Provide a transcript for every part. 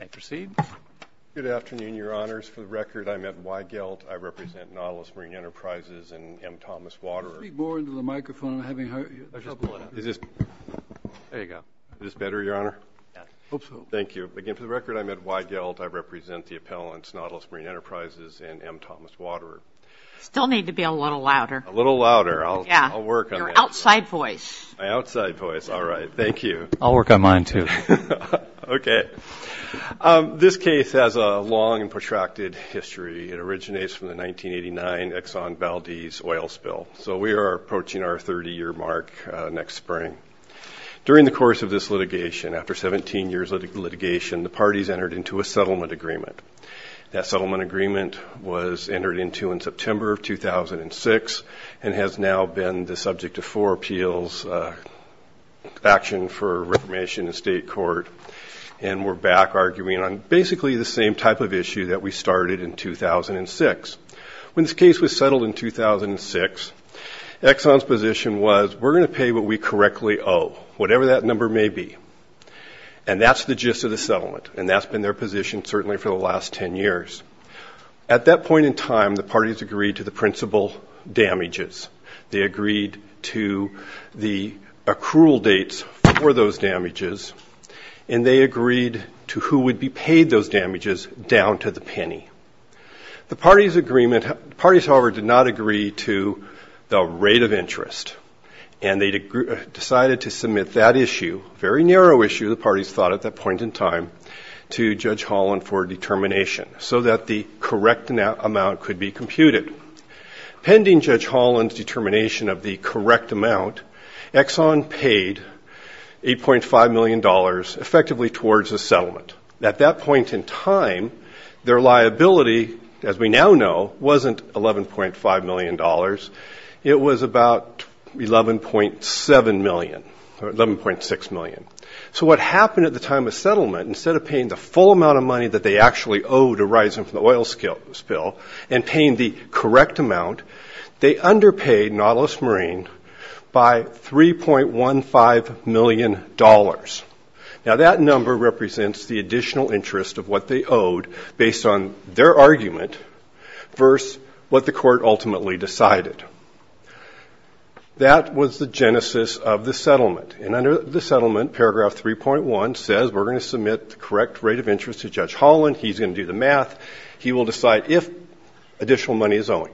And proceed. Good afternoon, Your Honors. For the record, I'm Ed Weigelt. I represent Nautilus Marine Enterprises and M. Thomas Waterer. Can you move more into the microphone? I'm having trouble with it. There you go. Is this better, Your Honor? I hope so. Thank you. Again, for the record, I'm Ed Weigelt. I represent the appellants, Nautilus Marine Enterprises and M. Thomas Waterer. You still need to be a little louder. A little louder. I'll work on that. Your outside voice. My outside voice. All right. Thank you. I'll work on mine, too. Okay. This case has a long and protracted history. It originates from the 1989 Exxon Valdez oil spill. So we are approaching our 30-year mark next spring. During the course of this litigation, after 17 years of litigation, the parties entered into a settlement agreement. That settlement agreement was entered into in September of 2006 and has now been the subject of four appeals, action for reformation in state court. And we're back arguing on basically the same type of issue that we started in 2006. When this case was settled in 2006, Exxon's position was, we're going to pay what we correctly owe, whatever that number may be. And that's the gist of the settlement. And that's been their position certainly for the last 10 years. At that point in time, the parties agreed to the principal damages. They agreed to the accrual dates for those damages, and they agreed to who would be paid those damages down to the penny. The parties, however, did not agree to the rate of interest, and they decided to submit that issue, a very narrow issue, the parties thought at that point in time, to Judge Holland for determination so that the correct amount could be computed. Pending Judge Holland's determination of the correct amount, Exxon paid $8.5 million effectively towards the settlement. At that point in time, their liability, as we now know, wasn't $11.5 million. It was about $11.6 million. So what happened at the time of settlement, instead of paying the full amount of money that they actually owed arising from the oil spill and paying the correct amount, they underpaid Nautilus Marine by $3.15 million. Now, that number represents the additional interest of what they owed based on their argument versus what the court ultimately decided. That was the genesis of the settlement. And under the settlement, Paragraph 3.1 says we're going to submit the correct rate of interest to Judge Holland. He's going to do the math. He will decide if additional money is owing.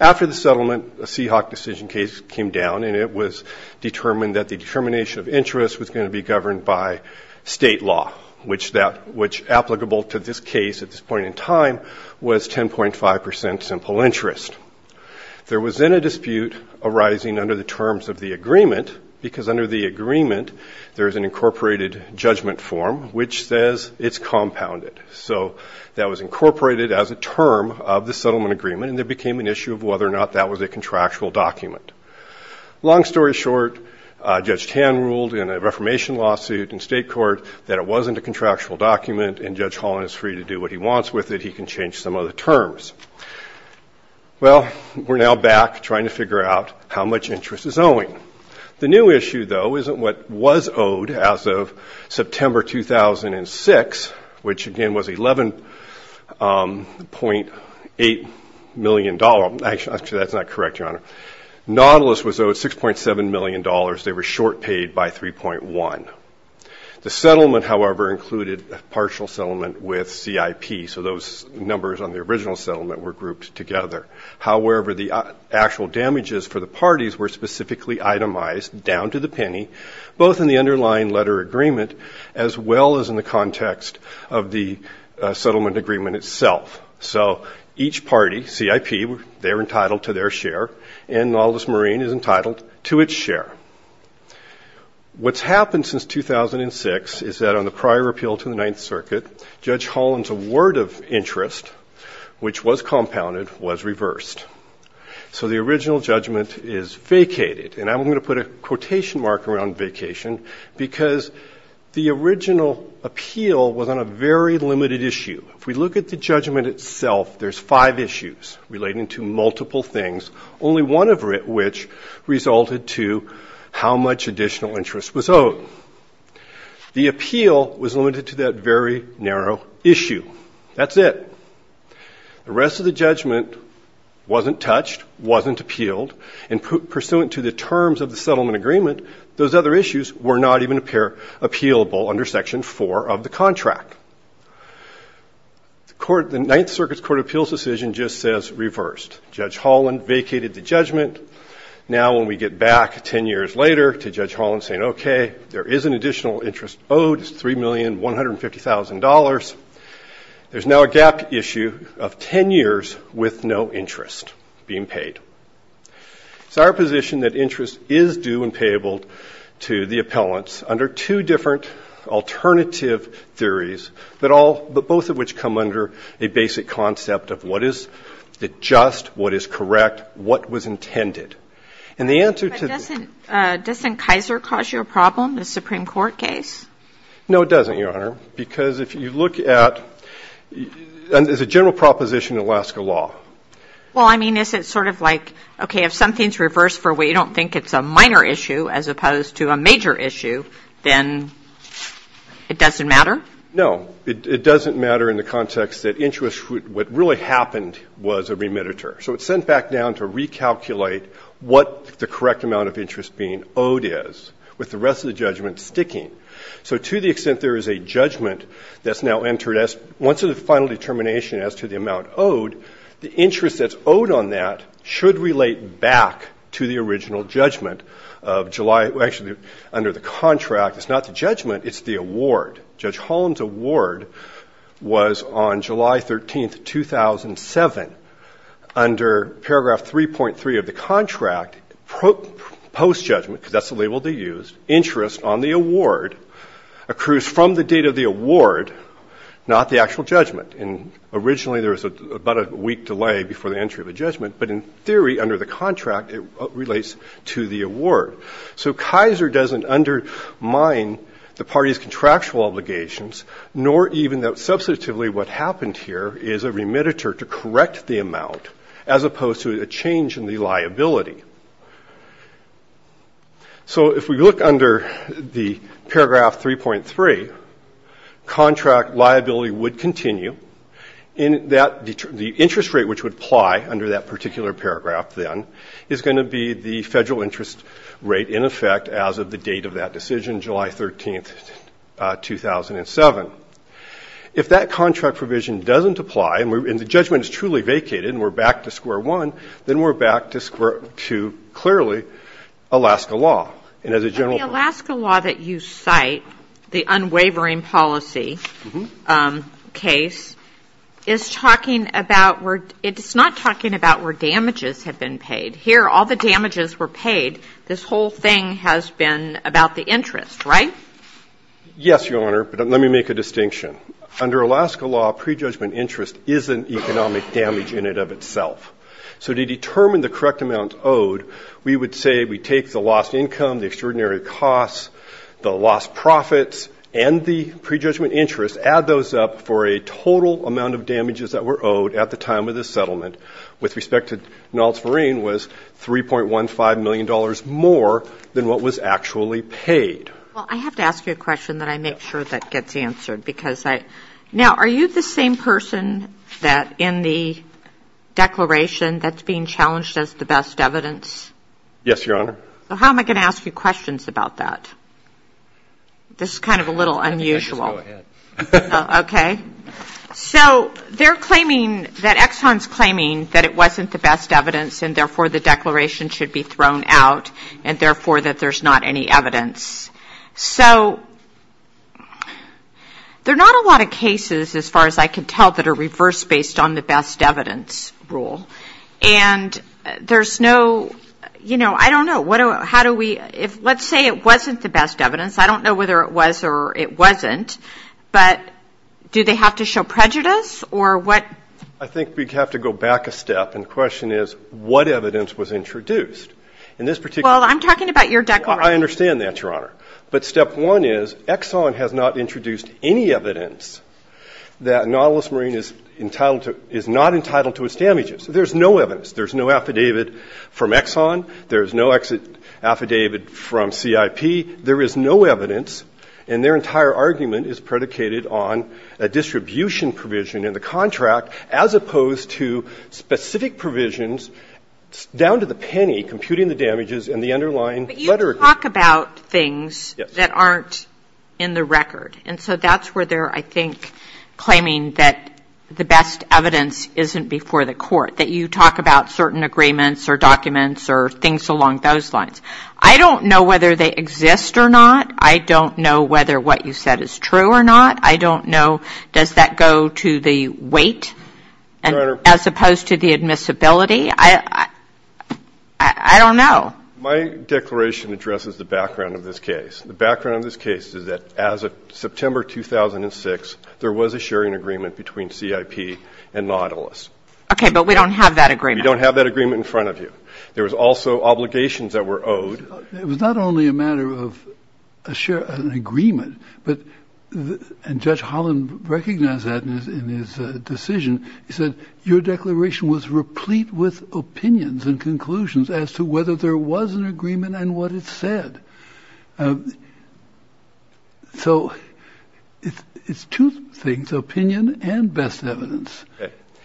After the settlement, a Seahawk decision case came down, and it was determined that the determination of interest was going to be governed by state law, which applicable to this case at this point in time was 10.5 percent simple interest. There was then a dispute arising under the terms of the agreement, because under the agreement there is an incorporated judgment form which says it's compounded. So that was incorporated as a term of the settlement agreement, and there became an issue of whether or not that was a contractual document. Long story short, Judge Tan ruled in a Reformation lawsuit in state court that it wasn't a contractual document, and Judge Holland is free to do what he wants with it. He can change some of the terms. Well, we're now back trying to figure out how much interest is owing. The new issue, though, isn't what was owed as of September 2006, which, again, was $11.8 million. Actually, that's not correct, Your Honor. Nautilus was owed $6.7 million. They were short paid by 3.1. The settlement, however, included a partial settlement with CIP, so those numbers on the original settlement were grouped together. However, the actual damages for the parties were specifically itemized down to the penny, both in the underlying letter agreement as well as in the context of the settlement agreement itself. So each party, CIP, they're entitled to their share, and Nautilus Marine is entitled to its share. What's happened since 2006 is that on the prior appeal to the Ninth Circuit, Judge Holland's award of interest, which was compounded, was reversed. So the original judgment is vacated, and I'm going to put a quotation mark around vacation because the original appeal was on a very limited issue. If we look at the judgment itself, there's five issues relating to multiple things, only one of which resulted to how much additional interest was owed. The appeal was limited to that very narrow issue. That's it. The rest of the judgment wasn't touched, wasn't appealed, and pursuant to the terms of the settlement agreement, those other issues were not even appealable under Section 4 of the contract. The Ninth Circuit's court appeals decision just says reversed. Judge Holland vacated the judgment. Now when we get back ten years later to Judge Holland saying, okay, there is an additional interest owed, $3,150,000, there's now a gap issue of ten years with no interest being paid. It's our position that interest is due and payable to the appellants under two different alternative theories, but both of which come under a basic concept of what is just, what is correct, what was intended. And the answer to the ---- But doesn't Kaiser cause you a problem, the Supreme Court case? No, it doesn't, Your Honor, because if you look at the general proposition in Alaska law. Well, I mean, is it sort of like, okay, if something's reversed for what you don't think it's a minor issue as opposed to a major issue, then it doesn't matter? No. It doesn't matter in the context that interest, what really happened was a remediator. So it's sent back down to recalculate what the correct amount of interest being owed is, with the rest of the judgment sticking. So to the extent there is a judgment that's now entered as, once there's a final determination as to the amount owed, the interest that's owed on that should relate back to the original judgment of July, actually under the contract. It's not the judgment, it's the award. Judge Holland's award was on July 13, 2007. Under paragraph 3.3 of the contract, post-judgment, because that's the label they used, interest on the award accrues from the date of the award, not the actual judgment. And originally there was about a week delay before the entry of the judgment, So Kaiser doesn't undermine the party's contractual obligations, nor even though, substantively, what happened here is a remediator to correct the amount, as opposed to a change in the liability. So if we look under the paragraph 3.3, contract liability would continue, and the interest rate which would apply under that particular paragraph, then, is going to be the federal interest rate, in effect, as of the date of that decision, July 13, 2007. If that contract provision doesn't apply, and the judgment is truly vacated, and we're back to square one, then we're back to square two, clearly, Alaska law. And as a general point. But the Alaska law that you cite, the unwavering policy case, is talking about where, it's not talking about where damages have been paid. Here, all the damages were paid. This whole thing has been about the interest, right? Yes, Your Honor, but let me make a distinction. Under Alaska law, prejudgment interest is an economic damage in and of itself. So to determine the correct amount owed, we would say we take the lost income, the extraordinary costs, the lost profits, and the prejudgment interest, add those up for a total amount of damages that were owed at the time of the settlement, with respect to Naltzverein, was $3.15 million more than what was actually paid. Well, I have to ask you a question that I make sure that gets answered. Now, are you the same person that, in the declaration, that's being challenged as the best evidence? Yes, Your Honor. So how am I going to ask you questions about that? This is kind of a little unusual. Just go ahead. Okay. So they're claiming that Exxon's claiming that it wasn't the best evidence, and therefore the declaration should be thrown out, and therefore that there's not any evidence. So there are not a lot of cases, as far as I can tell, that are reversed based on the best evidence rule. And there's no, you know, I don't know. How do we, let's say it wasn't the best evidence. I don't know whether it was or it wasn't, but do they have to show prejudice or what? I think we'd have to go back a step, and the question is, what evidence was introduced in this particular case? Well, I'm talking about your declaration. I understand that, Your Honor. But step one is, Exxon has not introduced any evidence that Naltzverein is entitled to, is not entitled to its damages. There's no evidence. There's no affidavit from Exxon. There's no affidavit from CIP. There is no evidence, and their entire argument is predicated on a distribution provision in the contract, as opposed to specific provisions down to the penny, computing the damages and the underlying letter agreement. But you talk about things that aren't in the record. And so that's where they're, I think, claiming that the best evidence isn't before the Court, that you talk about certain agreements or documents or things along those lines. I don't know whether they exist or not. I don't know whether what you said is true or not. I don't know, does that go to the weight, as opposed to the admissibility? I don't know. My declaration addresses the background of this case. The background of this case is that as of September 2006, there was a sharing agreement between CIP and Nautilus. Okay, but we don't have that agreement. We don't have that agreement in front of you. There was also obligations that were owed. It was not only a matter of an agreement, and Judge Holland recognized that in his decision. He said, your declaration was replete with opinions and conclusions as to whether there was an agreement and what it said. So it's two things, opinion and best evidence.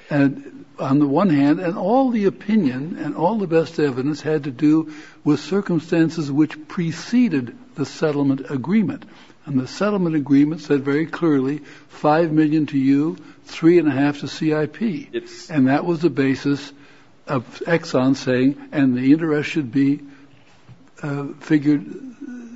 On the one hand, and all the opinion and all the best evidence had to do with circumstances which preceded the settlement agreement. And the settlement agreement said very clearly, five million to you, three and a half to CIP. And that was the basis of Exxon saying, and the interest should be figured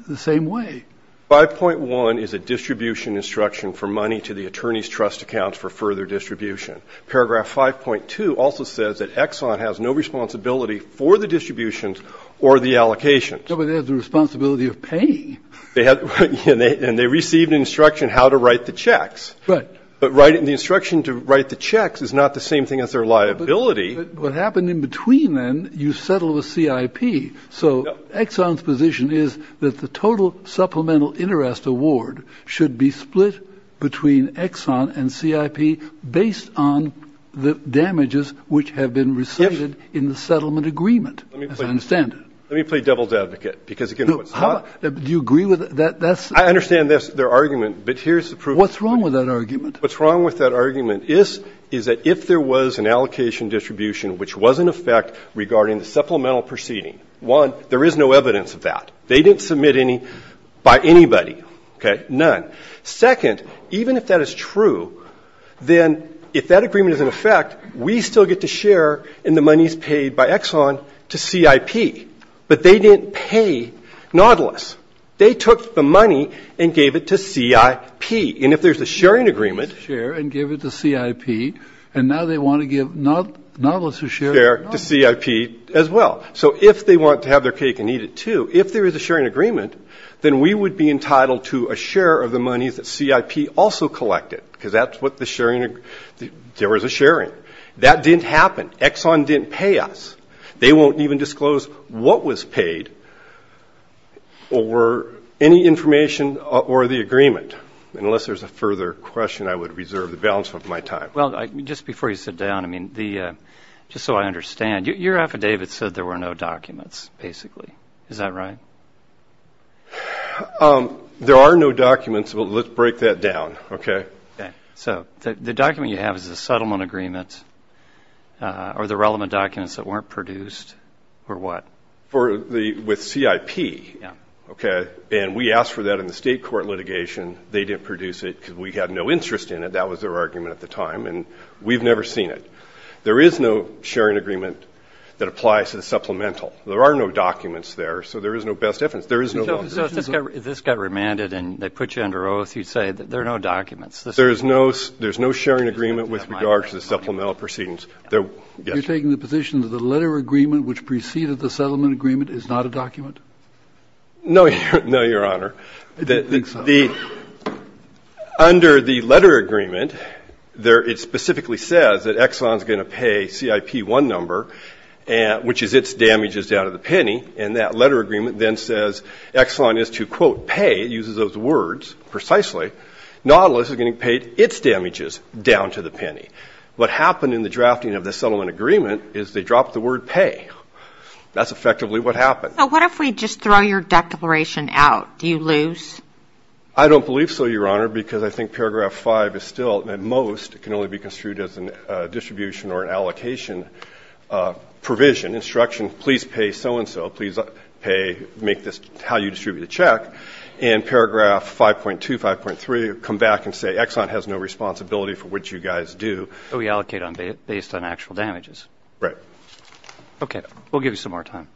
the same way. 5.1 is a distribution instruction for money to the attorney's trust accounts for further distribution. Paragraph 5.2 also says that Exxon has no responsibility for the distributions or the allocations. No, but they have the responsibility of paying. And they received instruction how to write the checks. Right. But writing the instruction to write the checks is not the same thing as their liability. But what happened in between then, you settled with CIP. So Exxon's position is that the total supplemental interest award should be split between Exxon and CIP based on the damages which have been received in the settlement agreement, as I understand it. Let me play devil's advocate. Do you agree with that? I understand their argument, but here's the proof. What's wrong with that argument? What's wrong with that argument is that if there was an allocation distribution which was in effect regarding the supplemental proceeding, one, there is no evidence of that. They didn't submit any by anybody. None. Second, even if that is true, then if that agreement is in effect, we still get to share in the monies paid by Exxon to CIP. But they didn't pay Nautilus. They took the money and gave it to CIP. And if there's a sharing agreement. Share and give it to CIP. And now they want to give Nautilus a share. Share to CIP as well. So if they want to have their cake and eat it too, if there is a sharing agreement, then we would be entitled to a share of the monies that CIP also collected. Because that's what the sharing agreement. There was a sharing. That didn't happen. Exxon didn't pay us. They won't even disclose what was paid or any information or the agreement. Unless there's a further question, I would reserve the balance of my time. Well, just before you sit down, I mean, just so I understand, your affidavit said there were no documents basically. Is that right? There are no documents, but let's break that down. Okay? So the document you have is a settlement agreement or the relevant documents that weren't produced for what? With CIP. Yeah. Okay. And we asked for that in the state court litigation. They didn't produce it because we had no interest in it. That was their argument at the time. And we've never seen it. There is no sharing agreement that applies to the supplemental. There are no documents there, so there is no best evidence. There is no document. So if this got remanded and they put you under oath, you'd say there are no documents. There is no sharing agreement with regard to the supplemental proceedings. You're taking the position that the letter agreement which preceded the settlement agreement is not a document? No, Your Honor. Under the letter agreement, it specifically says that Exxon is going to pay CIP-1 number, which is its damages down to the penny. And that letter agreement then says Exxon is to, quote, pay, uses those words precisely, Nautilus is going to pay its damages down to the penny. What happened in the drafting of the settlement agreement is they dropped the word pay. That's effectively what happened. So what if we just throw your declaration out? Do you lose? I don't believe so, Your Honor, because I think paragraph 5 is still, at most, it can only be construed as a distribution or an allocation provision. Instruction, please pay so-and-so, please pay, make this how you distribute the check. And paragraph 5.2, 5.3 come back and say Exxon has no responsibility for what you guys do. So we allocate based on actual damages? Right. We'll give you some more time.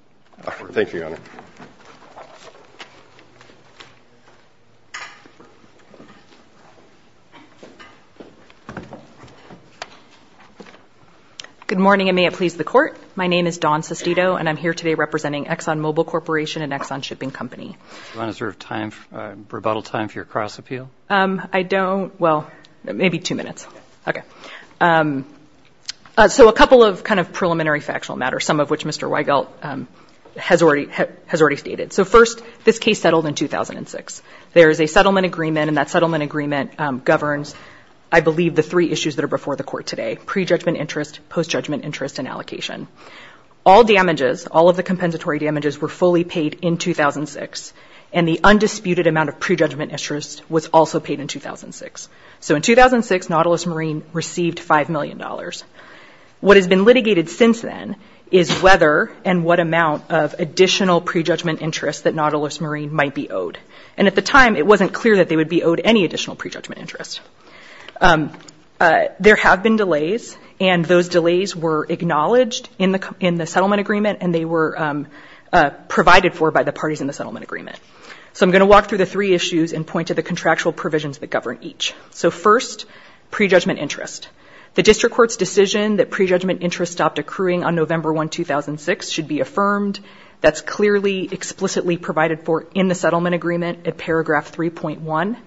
Thank you, Your Honor. Good morning, and may it please the Court. My name is Dawn Sestito, and I'm here today representing ExxonMobil Corporation and Exxon Shipping Company. Do you want to reserve time, rebuttal time, for your cross-appeal? I don't. Well, maybe two minutes. Okay. So a couple of kind of preliminary factual matters, some of which Mr. Nautilus has already stated. So first, this case settled in 2006. There is a settlement agreement, and that settlement agreement governs, I believe, the three issues that are before the Court today, pre-judgment interest, post-judgment interest, and allocation. All damages, all of the compensatory damages were fully paid in 2006, and the undisputed amount of pre-judgment interest was also paid in 2006. So in 2006, Nautilus Marine received $5 million. What has been litigated since then is whether and what amount of additional pre-judgment interest that Nautilus Marine might be owed. And at the time, it wasn't clear that they would be owed any additional pre-judgment interest. There have been delays, and those delays were acknowledged in the settlement agreement, and they were provided for by the parties in the settlement agreement. So I'm going to walk through the three issues and point to the contractual provisions that govern each. So first, pre-judgment interest. The District Court's decision that pre-judgment interest stopped accruing on November 1, 2006 should be affirmed. That's clearly explicitly provided for in the settlement agreement in Paragraph 3.1.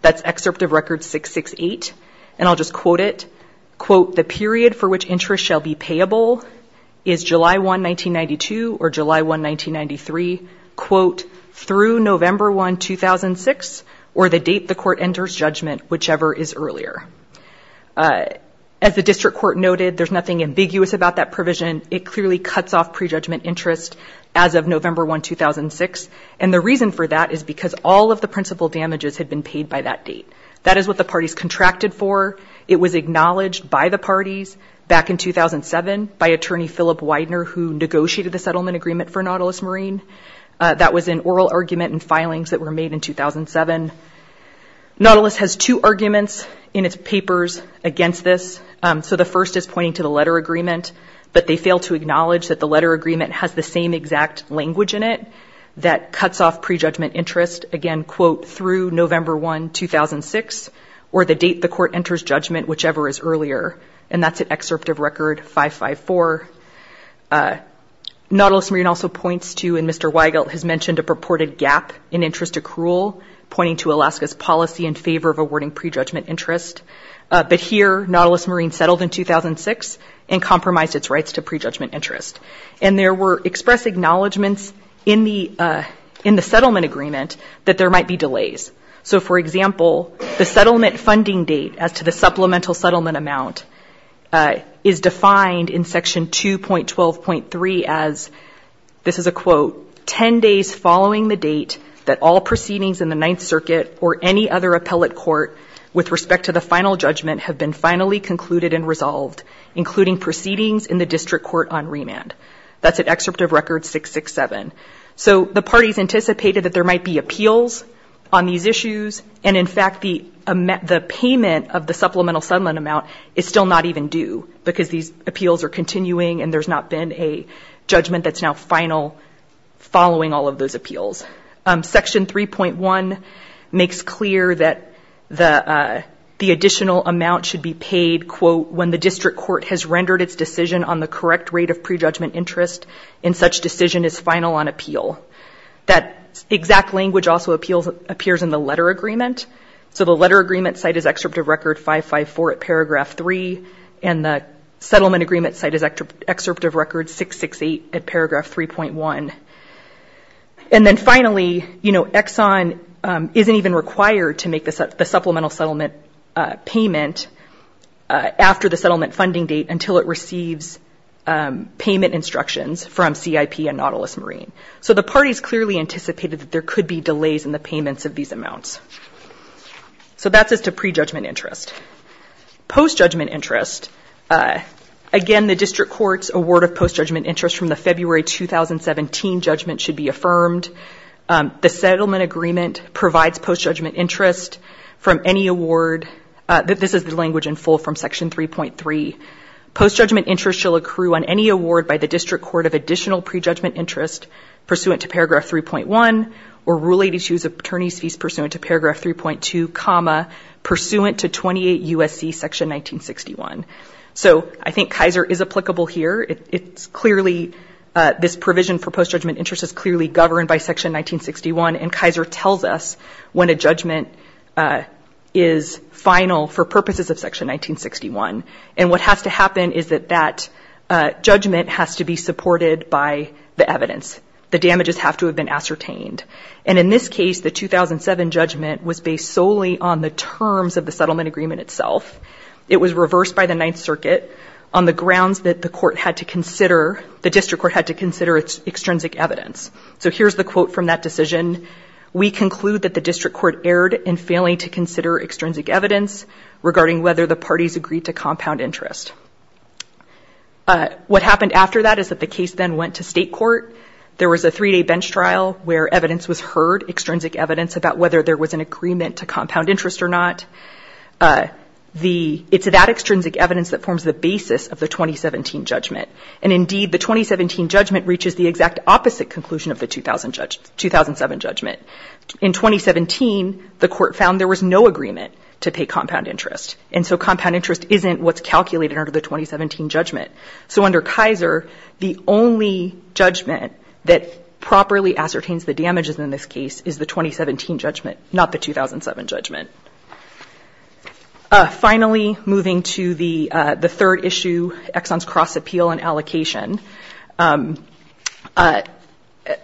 That's Excerpt of Record 668, and I'll just quote it. Quote, the period for which interest shall be payable is July 1, 1992, or July 1, 1993, quote, through November 1, 2006, or the date the court enters judgment, whichever is earlier. As the District Court noted, there's nothing ambiguous about that provision. It clearly cuts off pre-judgment interest as of November 1, 2006, and the reason for that is because all of the principal damages had been paid by that date. That is what the parties contracted for. It was acknowledged by the parties back in 2007 by Attorney Philip Widener, who negotiated the settlement agreement for Nautilus Marine. That was an oral argument and filings that were made in 2007. Nautilus has two arguments in its papers against this. The first is pointing to the letter agreement, but they fail to acknowledge that the letter agreement has the same exact language in it that cuts off pre-judgment interest, again, quote, through November 1, 2006, or the date the court enters judgment, whichever is earlier. That's at Excerpt of Record 554. Nautilus Marine also points to, and Mr. Weigelt has mentioned, a purported gap in interest accrual, pointing to Alaska's policy in favor of awarding pre-judgment interest. But here, Nautilus Marine settled in 2006 and compromised its rights to pre-judgment interest. And there were expressed acknowledgments in the settlement agreement that there might be delays. So, for example, the settlement funding date as to the supplemental settlement amount is defined in Section 2.12.3 as, this is a quote, 10 days following the date that all proceedings in the Ninth Circuit or any other appellate court with respect to the final judgment have been finally concluded and resolved, including proceedings in the district court on remand. That's at Excerpt of Record 667. So the parties anticipated that there might be appeals on these issues, and, in fact, the payment of the supplemental settlement amount is still not even due because these appeals are continuing and there's not been a judgment that's now final following all of those appeals. Section 3.1 makes clear that the additional amount should be paid, quote, when the district court has rendered its decision on the correct rate of pre-judgment interest and such decision is final on appeal. That exact language also appears in the letter agreement. So the letter agreement site is Excerpt of Record 554 at paragraph 3, and the settlement agreement site is Excerpt of Record 668 at paragraph 3.1. And then finally, you know, Exxon isn't even required to make the supplemental settlement payment after the settlement funding date until it receives payment instructions from CIP and Nautilus Marine. So the parties clearly anticipated that there could be delays in the payments of these amounts. So that's as to pre-judgment interest. Post-judgment interest, again, the district court's award of post-judgment interest from the February 2017 judgment should be affirmed. The settlement agreement provides post-judgment interest from any award. This is the language in full from Section 3.3. Post-judgment interest shall accrue on any award by the district court of additional pre-judgment interest pursuant to paragraph 3.1, or Rule 82's attorney's fees pursuant to paragraph 3.2, pursuant to 28 U.S.C. Section 1961. So I think Kaiser is applicable here. It's clearly this provision for post-judgment interest is clearly governed by Section 1961. And Kaiser tells us when a judgment is final for purposes of Section 1961. And what has to happen is that that judgment has to be supported by the evidence. The damages have to have been ascertained. And in this case, the 2007 judgment was based solely on the terms of the settlement agreement itself. It was reversed by the Ninth Circuit on the grounds that the court had to consider, the district court had to consider its extrinsic evidence. So here's the quote from that decision. We conclude that the district court erred in failing to consider extrinsic evidence regarding whether the parties agreed to compound interest. What happened after that is that the case then went to state court. There was a three-day bench trial where evidence was heard, extrinsic evidence about whether there was an agreement to compound interest or not. It's that extrinsic evidence that forms the basis of the 2017 judgment. And indeed, the 2017 judgment reaches the exact opposite conclusion of the 2007 judgment. In 2017, the court found there was no agreement to pay compound interest. And so compound interest isn't what's calculated under the 2017 judgment. So under Kaiser, the only judgment that properly ascertains the damages in this case is the 2017 judgment, not the 2007 judgment. Finally, moving to the third issue, Exxon's Cross-Appeal and Allocation.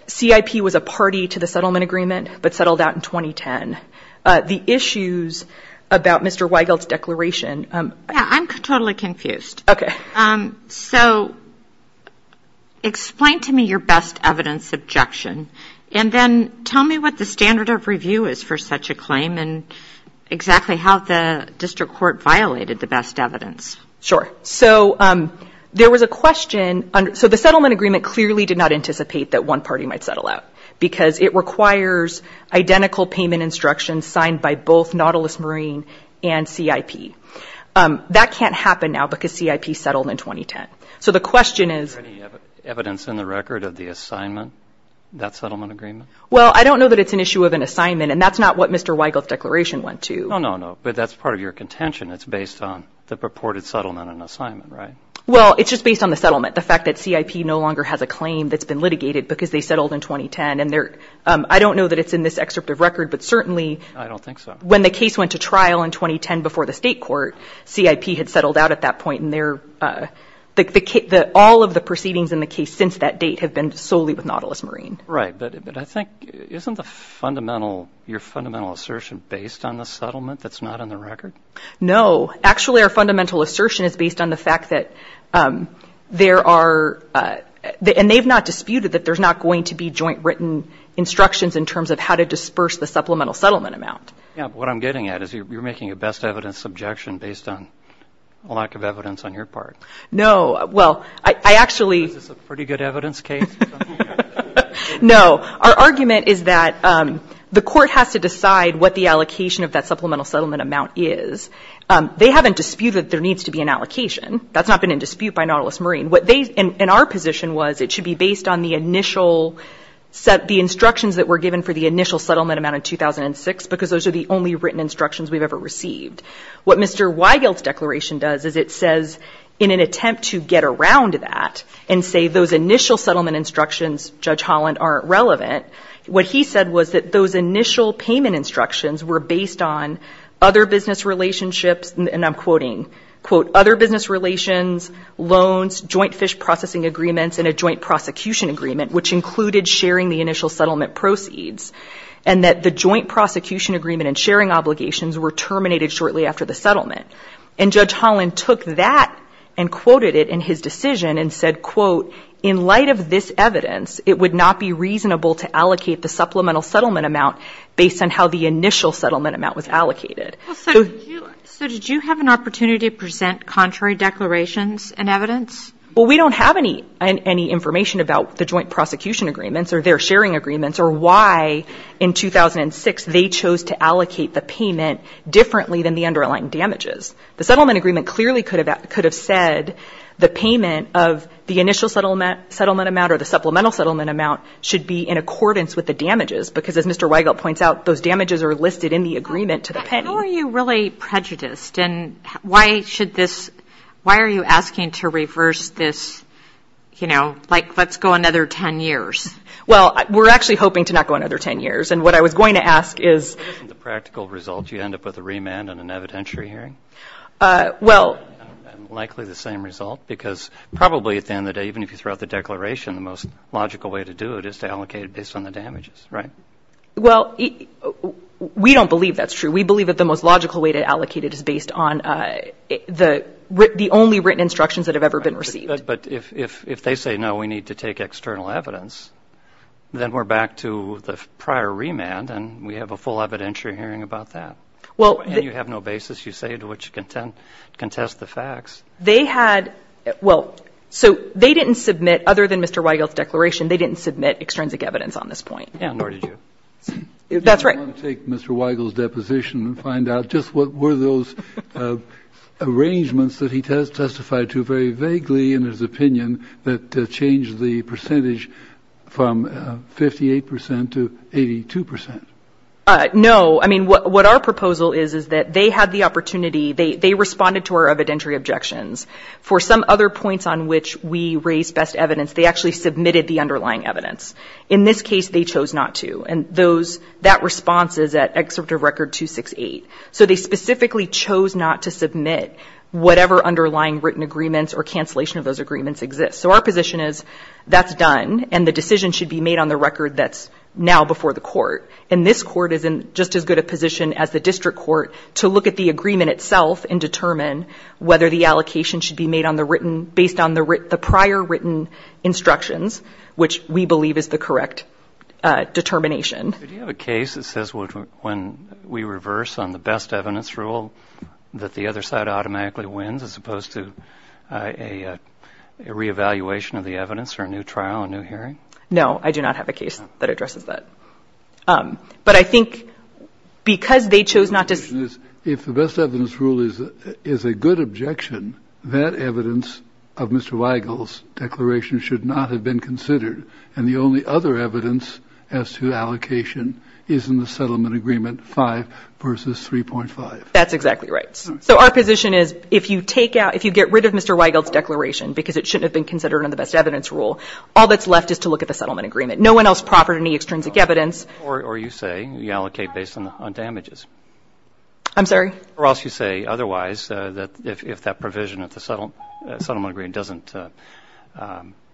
CIP was a party to the settlement agreement but settled out in 2010. The issues about Mr. Weigelt's declaration. Yeah, I'm totally confused. Okay. So explain to me your best evidence objection. And then tell me what the standard of review is for such a claim. And exactly how the district court violated the best evidence. Sure. So there was a question. So the settlement agreement clearly did not anticipate that one party might settle out because it requires identical payment instructions signed by both Nautilus Marine and CIP. That can't happen now because CIP settled in 2010. So the question is. Is there any evidence in the record of the assignment, that settlement agreement? Well, I don't know that it's an issue of an assignment. And that's not what Mr. Weigelt's declaration went to. No, no, no. But that's part of your contention. It's based on the purported settlement and assignment, right? Well, it's just based on the settlement. The fact that CIP no longer has a claim that's been litigated because they settled in 2010. And I don't know that it's in this excerpt of record. But certainly. I don't think so. When the case went to trial in 2010 before the state court, CIP had settled out at that point. And all of the proceedings in the case since that date have been solely with Nautilus Marine. Right. But isn't your fundamental assertion based on the settlement that's not in the record? No. Actually, our fundamental assertion is based on the fact that there are. And they've not disputed that there's not going to be joint written instructions in terms of how to disperse the supplemental settlement amount. Yeah. But what I'm getting at is you're making a best evidence objection based on a lack of evidence on your part. No. Well, I actually. Is this a pretty good evidence case? No. Our argument is that the court has to decide what the allocation of that supplemental settlement amount is. They haven't disputed that there needs to be an allocation. That's not been in dispute by Nautilus Marine. What they, in our position, was it should be based on the initial, the instructions that were given for the initial settlement amount in 2006 because those are the only written instructions we've ever received. What Mr. Weigel's declaration does is it says in an attempt to get around that and say those initial settlement instructions, Judge Holland, aren't relevant, what he said was that those initial payment instructions were based on other business relationships, and I'm quoting, quote, other business relations, loans, joint fish processing agreements, and a joint prosecution agreement, which included sharing the initial settlement proceeds. And that the joint prosecution agreement and sharing obligations were terminated shortly after the settlement. And Judge Holland took that and quoted it in his decision and said, quote, in light of this evidence, it would not be reasonable to allocate the supplemental settlement amount based on how the initial settlement amount was allocated. So did you have an opportunity to present contrary declarations and evidence? Well, we don't have any information about the joint prosecution agreements or their sharing agreements or why in 2006 they chose to allocate the payment differently than the underlying damages. The settlement agreement clearly could have said the payment of the initial settlement amount or the supplemental settlement amount should be in accordance with the damages. Because as Mr. Weigelt points out, those damages are listed in the agreement to the pending. How are you really prejudiced? And why should this why are you asking to reverse this, you know, like let's go another 10 years? Well, we're actually hoping to not go another 10 years. And what I was going to ask is. Isn't the practical result you end up with a remand and an evidentiary hearing? Well. And likely the same result because probably at the end of the day, even if you throw out the declaration, the most logical way to do it is to allocate it based on the damages, right? Well, we don't believe that's true. We believe that the most logical way to allocate it is based on the only written instructions that have ever been received. But if they say, no, we need to take external evidence, then we're back to the prior remand and we have a full evidentiary hearing about that. Well, you have no basis. You say to which content contest the facts they had. Well, so they didn't submit other than Mr. Weigel's declaration. They didn't submit extrinsic evidence on this point. And nor did you. That's right. Take Mr. Weigel's deposition and find out just what were those arrangements that he testified to very vaguely in his opinion that changed the percentage from 58% to 82%. No. I mean, what our proposal is is that they had the opportunity, they responded to our evidentiary objections. For some other points on which we raised best evidence, they actually submitted the underlying evidence. In this case, they chose not to. And that response is at Excerpt of Record 268. So they specifically chose not to submit whatever underlying written agreements or cancellation of those agreements exist. So our position is that's done and the decision should be made on the record that's now before the court. And this court is in just as good a position as the district court to look at the agreement itself and determine whether the allocation should be made on the written, based on the prior written instructions, which we believe is the correct determination. Do you have a case that says when we reverse on the best evidence rule that the other side automatically wins as opposed to a reevaluation of the evidence or a new trial, a new hearing? No, I do not have a case that addresses that. But I think because they chose not to. If the best evidence rule is a good objection, that evidence of Mr. Weigel's declaration should not have been considered. And the only other evidence as to allocation is in the settlement agreement 5 versus 3.5. That's exactly right. So our position is if you take out, if you get rid of Mr. Weigel's declaration because it shouldn't have been considered in the best evidence rule, all that's left is to look at the settlement agreement. No one else proffered any extrinsic evidence. Or you say you allocate based on damages. I'm sorry? Or else you say otherwise, that if that provision of the settlement agreement doesn't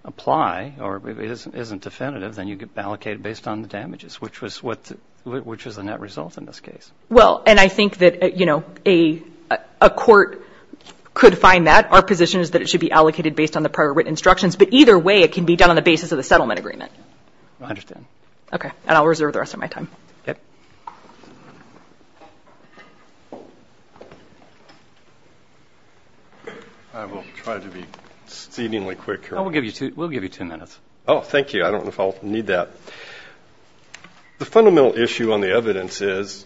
apply or isn't definitive, then you allocate based on the damages, which was the net result in this case. Well, and I think that a court could find that. Our position is that it should be allocated based on the prior written instructions. But either way, it can be done on the basis of the settlement agreement. I understand. Okay. And I'll reserve the rest of my time. Okay. I will try to be exceedingly quick here. We'll give you two minutes. Oh, thank you. I don't know if I'll need that. The fundamental issue on the evidence is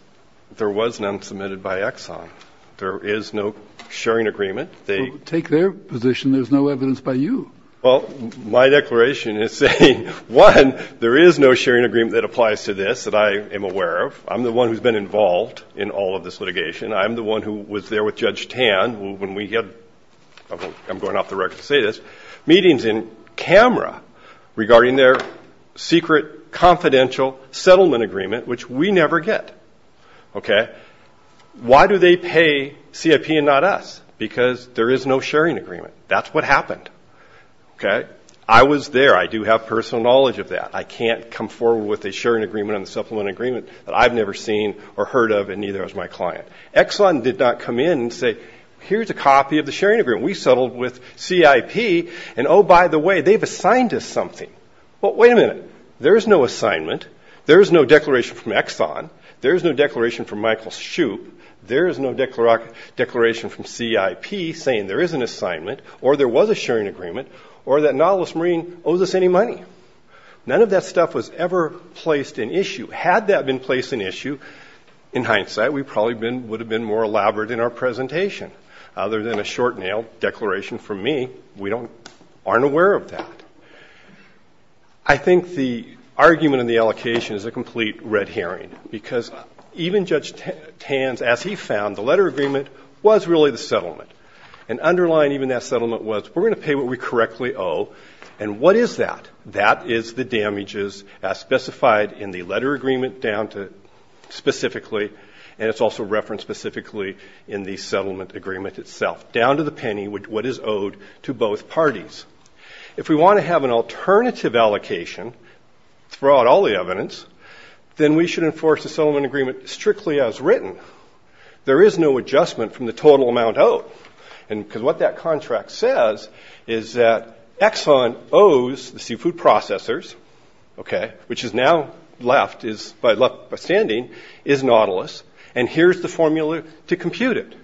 there was none submitted by Exxon. There is no sharing agreement. Take their position. There's no evidence by you. Well, my declaration is saying, one, there is no sharing agreement that applies to this that I am aware of. I'm the one who's been involved in all of this litigation. I'm the one who was there with Judge Tan when we had meetings in camera regarding their secret confidential settlement agreement, which we never get. Okay? Why do they pay CIP and not us? Because there is no sharing agreement. That's what happened. Okay? I was there. I do have personal knowledge of that. I can't come forward with a sharing agreement on the supplement agreement that I've never seen or heard of, and neither has my client. Exxon did not come in and say, here's a copy of the sharing agreement. We settled with CIP, and, oh, by the way, they've assigned us something. Well, wait a minute. There is no assignment. There is no declaration from Exxon. There is no declaration from Michael Shoup. There is no declaration from CIP saying there is an assignment or there was a sharing agreement or that Nautilus Marine owes us any money. None of that stuff was ever placed in issue. Had that been placed in issue, in hindsight, we probably would have been more elaborate in our presentation. Other than a short-nailed declaration from me, we aren't aware of that. I think the argument in the allocation is a complete red herring because even Judge Tan's, as he found, the letter agreement was really the settlement. And underlying even that settlement was we're going to pay what we correctly owe, and what is that? That is the damages as specified in the letter agreement down to specifically, and it's also referenced specifically in the settlement agreement itself, down to the penny, what is owed to both parties. If we want to have an alternative allocation throughout all the evidence, then we should enforce the settlement agreement strictly as written. There is no adjustment from the total amount owed because what that contract says is that Exxon owes the seafood processors, which is now left by standing, is Nautilus, and here's the formula to compute it.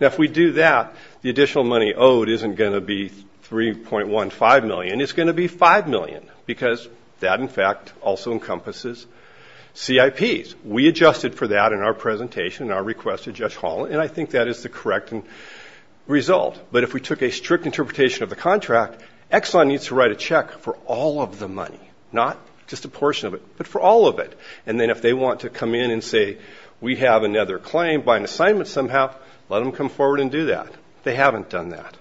Now, if we do that, the additional money owed isn't going to be $3.15 million. It's going to be $5 million because that, in fact, also encompasses CIPs. We adjusted for that in our presentation and our request to Judge Holland, and I think that is the correct result. But if we took a strict interpretation of the contract, Exxon needs to write a check for all of the money, not just a portion of it, but for all of it. And then if they want to come in and say, we have another claim by an assignment somehow, let them come forward and do that. They haven't done that.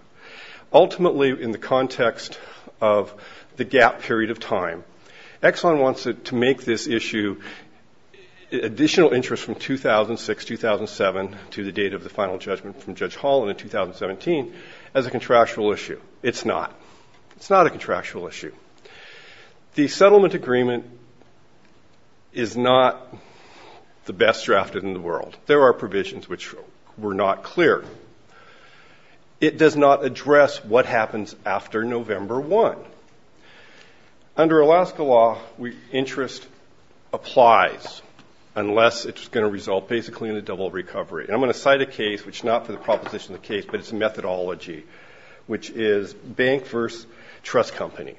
Ultimately, in the context of the gap period of time, Exxon wants to make this issue additional interest from 2006-2007 to the date of the final judgment from Judge Holland in 2017 as a contractual issue. It's not. It's not a contractual issue. The settlement agreement is not the best drafted in the world. There are provisions which were not clear. It does not address what happens after November 1. Under Alaska law, interest applies unless it's going to result basically in a double recovery. And I'm going to cite a case, which is not for the proposition of the case, but it's a methodology, which is Bank v. Trust Company,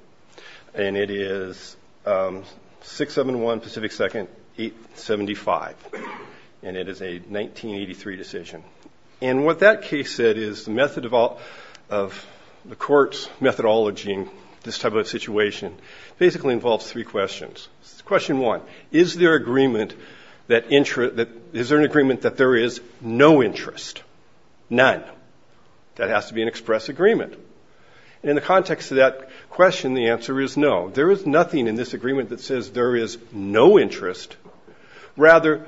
and it is 671 Pacific 2nd, 875, and it is a 1983 decision. And what that case said is the method of the court's methodology in this type of situation basically involves three questions. Question one, is there an agreement that there is no interest? None. That has to be an express agreement. In the context of that question, the answer is no. There is nothing in this agreement that says there is no interest. Rather,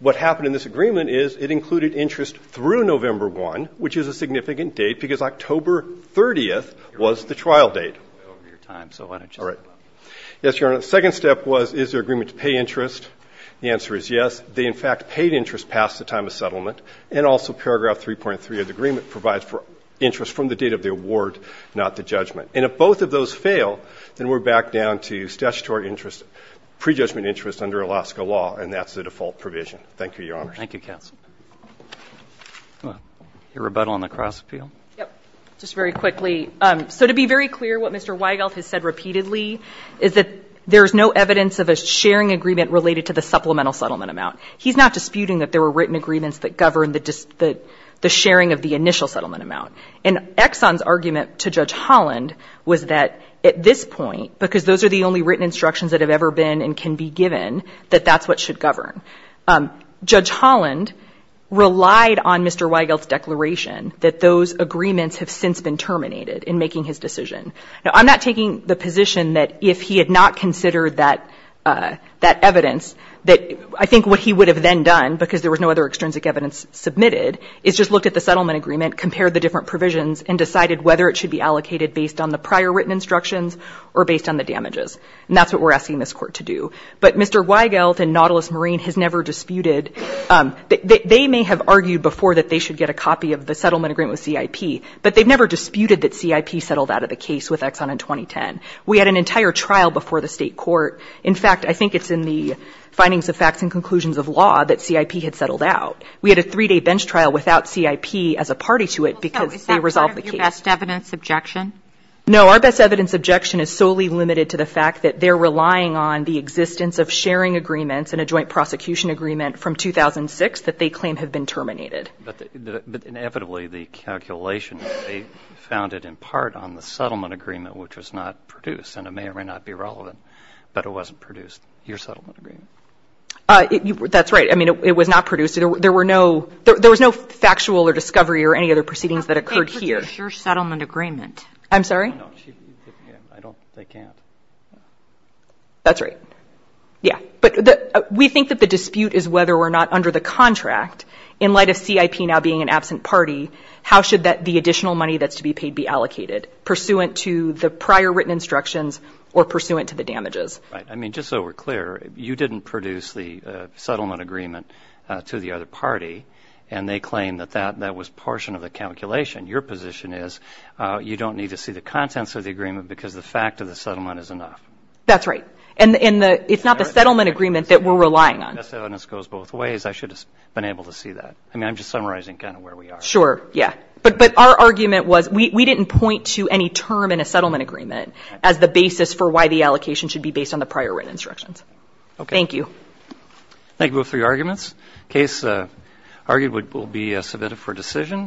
what happened in this agreement is it included interest through November 1, which is a significant date because October 30th was the trial date. Yes, Your Honor. The second step was, is there agreement to pay interest? The answer is yes. They, in fact, paid interest past the time of settlement. And also paragraph 3.3 of the agreement provides for interest from the date of the award, not the judgment. And if both of those fail, then we're back down to statutory interest, pre-judgment interest under Alaska law, and that's the default provision. Thank you, Your Honor. Thank you, counsel. Your rebuttal on the Cross Appeal? Yes. Just very quickly. So to be very clear, what Mr. Weigelf has said repeatedly is that there is no evidence of a sharing agreement related to the supplemental settlement amount. He's not disputing that there were written agreements that governed the sharing of the initial settlement amount. And Exxon's argument to Judge Holland was that at this point, because those are the only written instructions that have ever been and can be given, that that's what should govern. Judge Holland relied on Mr. Weigelf's declaration that those agreements have since been terminated in making his decision. Now, I'm not taking the position that if he had not considered that evidence, that I think what he would have then done, because there was no other extrinsic evidence submitted, is just looked at the settlement agreement, compared the different provisions, and decided whether it should be allocated based on the agreement. And that's what we're asking this Court to do. But Mr. Weigelf and Nautilus Marine has never disputed. They may have argued before that they should get a copy of the settlement agreement with CIP, but they've never disputed that CIP settled out of the case with Exxon in 2010. We had an entire trial before the State Court. In fact, I think it's in the findings of facts and conclusions of law that CIP had settled out. We had a three-day bench trial without CIP as a party to it because they resolved the case. Is that part of your best evidence objection? No. Our best evidence objection is solely limited to the fact that they're relying on the existence of sharing agreements and a joint prosecution agreement from 2006 that they claim have been terminated. But inevitably, the calculation, they found it in part on the settlement agreement, which was not produced. And it may or may not be relevant, but it wasn't produced, your settlement agreement. That's right. I mean, it was not produced. There were no – there was no factual or discovery or any other proceedings that occurred here. I'm sorry? I don't – they can't. That's right. Yeah. But we think that the dispute is whether or not under the contract, in light of CIP now being an absent party, how should the additional money that's to be paid be allocated, pursuant to the prior written instructions or pursuant to the damages? Right. I mean, just so we're clear, you didn't produce the settlement agreement to the other party, and they claim that that was a portion of the calculation. Your position is you don't need to see the contents of the agreement because the fact of the settlement is enough. That's right. And it's not the settlement agreement that we're relying on. That goes both ways. I should have been able to see that. I mean, I'm just summarizing kind of where we are. Sure. Yeah. But our argument was we didn't point to any term in a settlement agreement as the basis for why the allocation should be based on the prior written instructions. Okay. Thank you. Thank you both for your arguments. The case argued will be submitted for decision.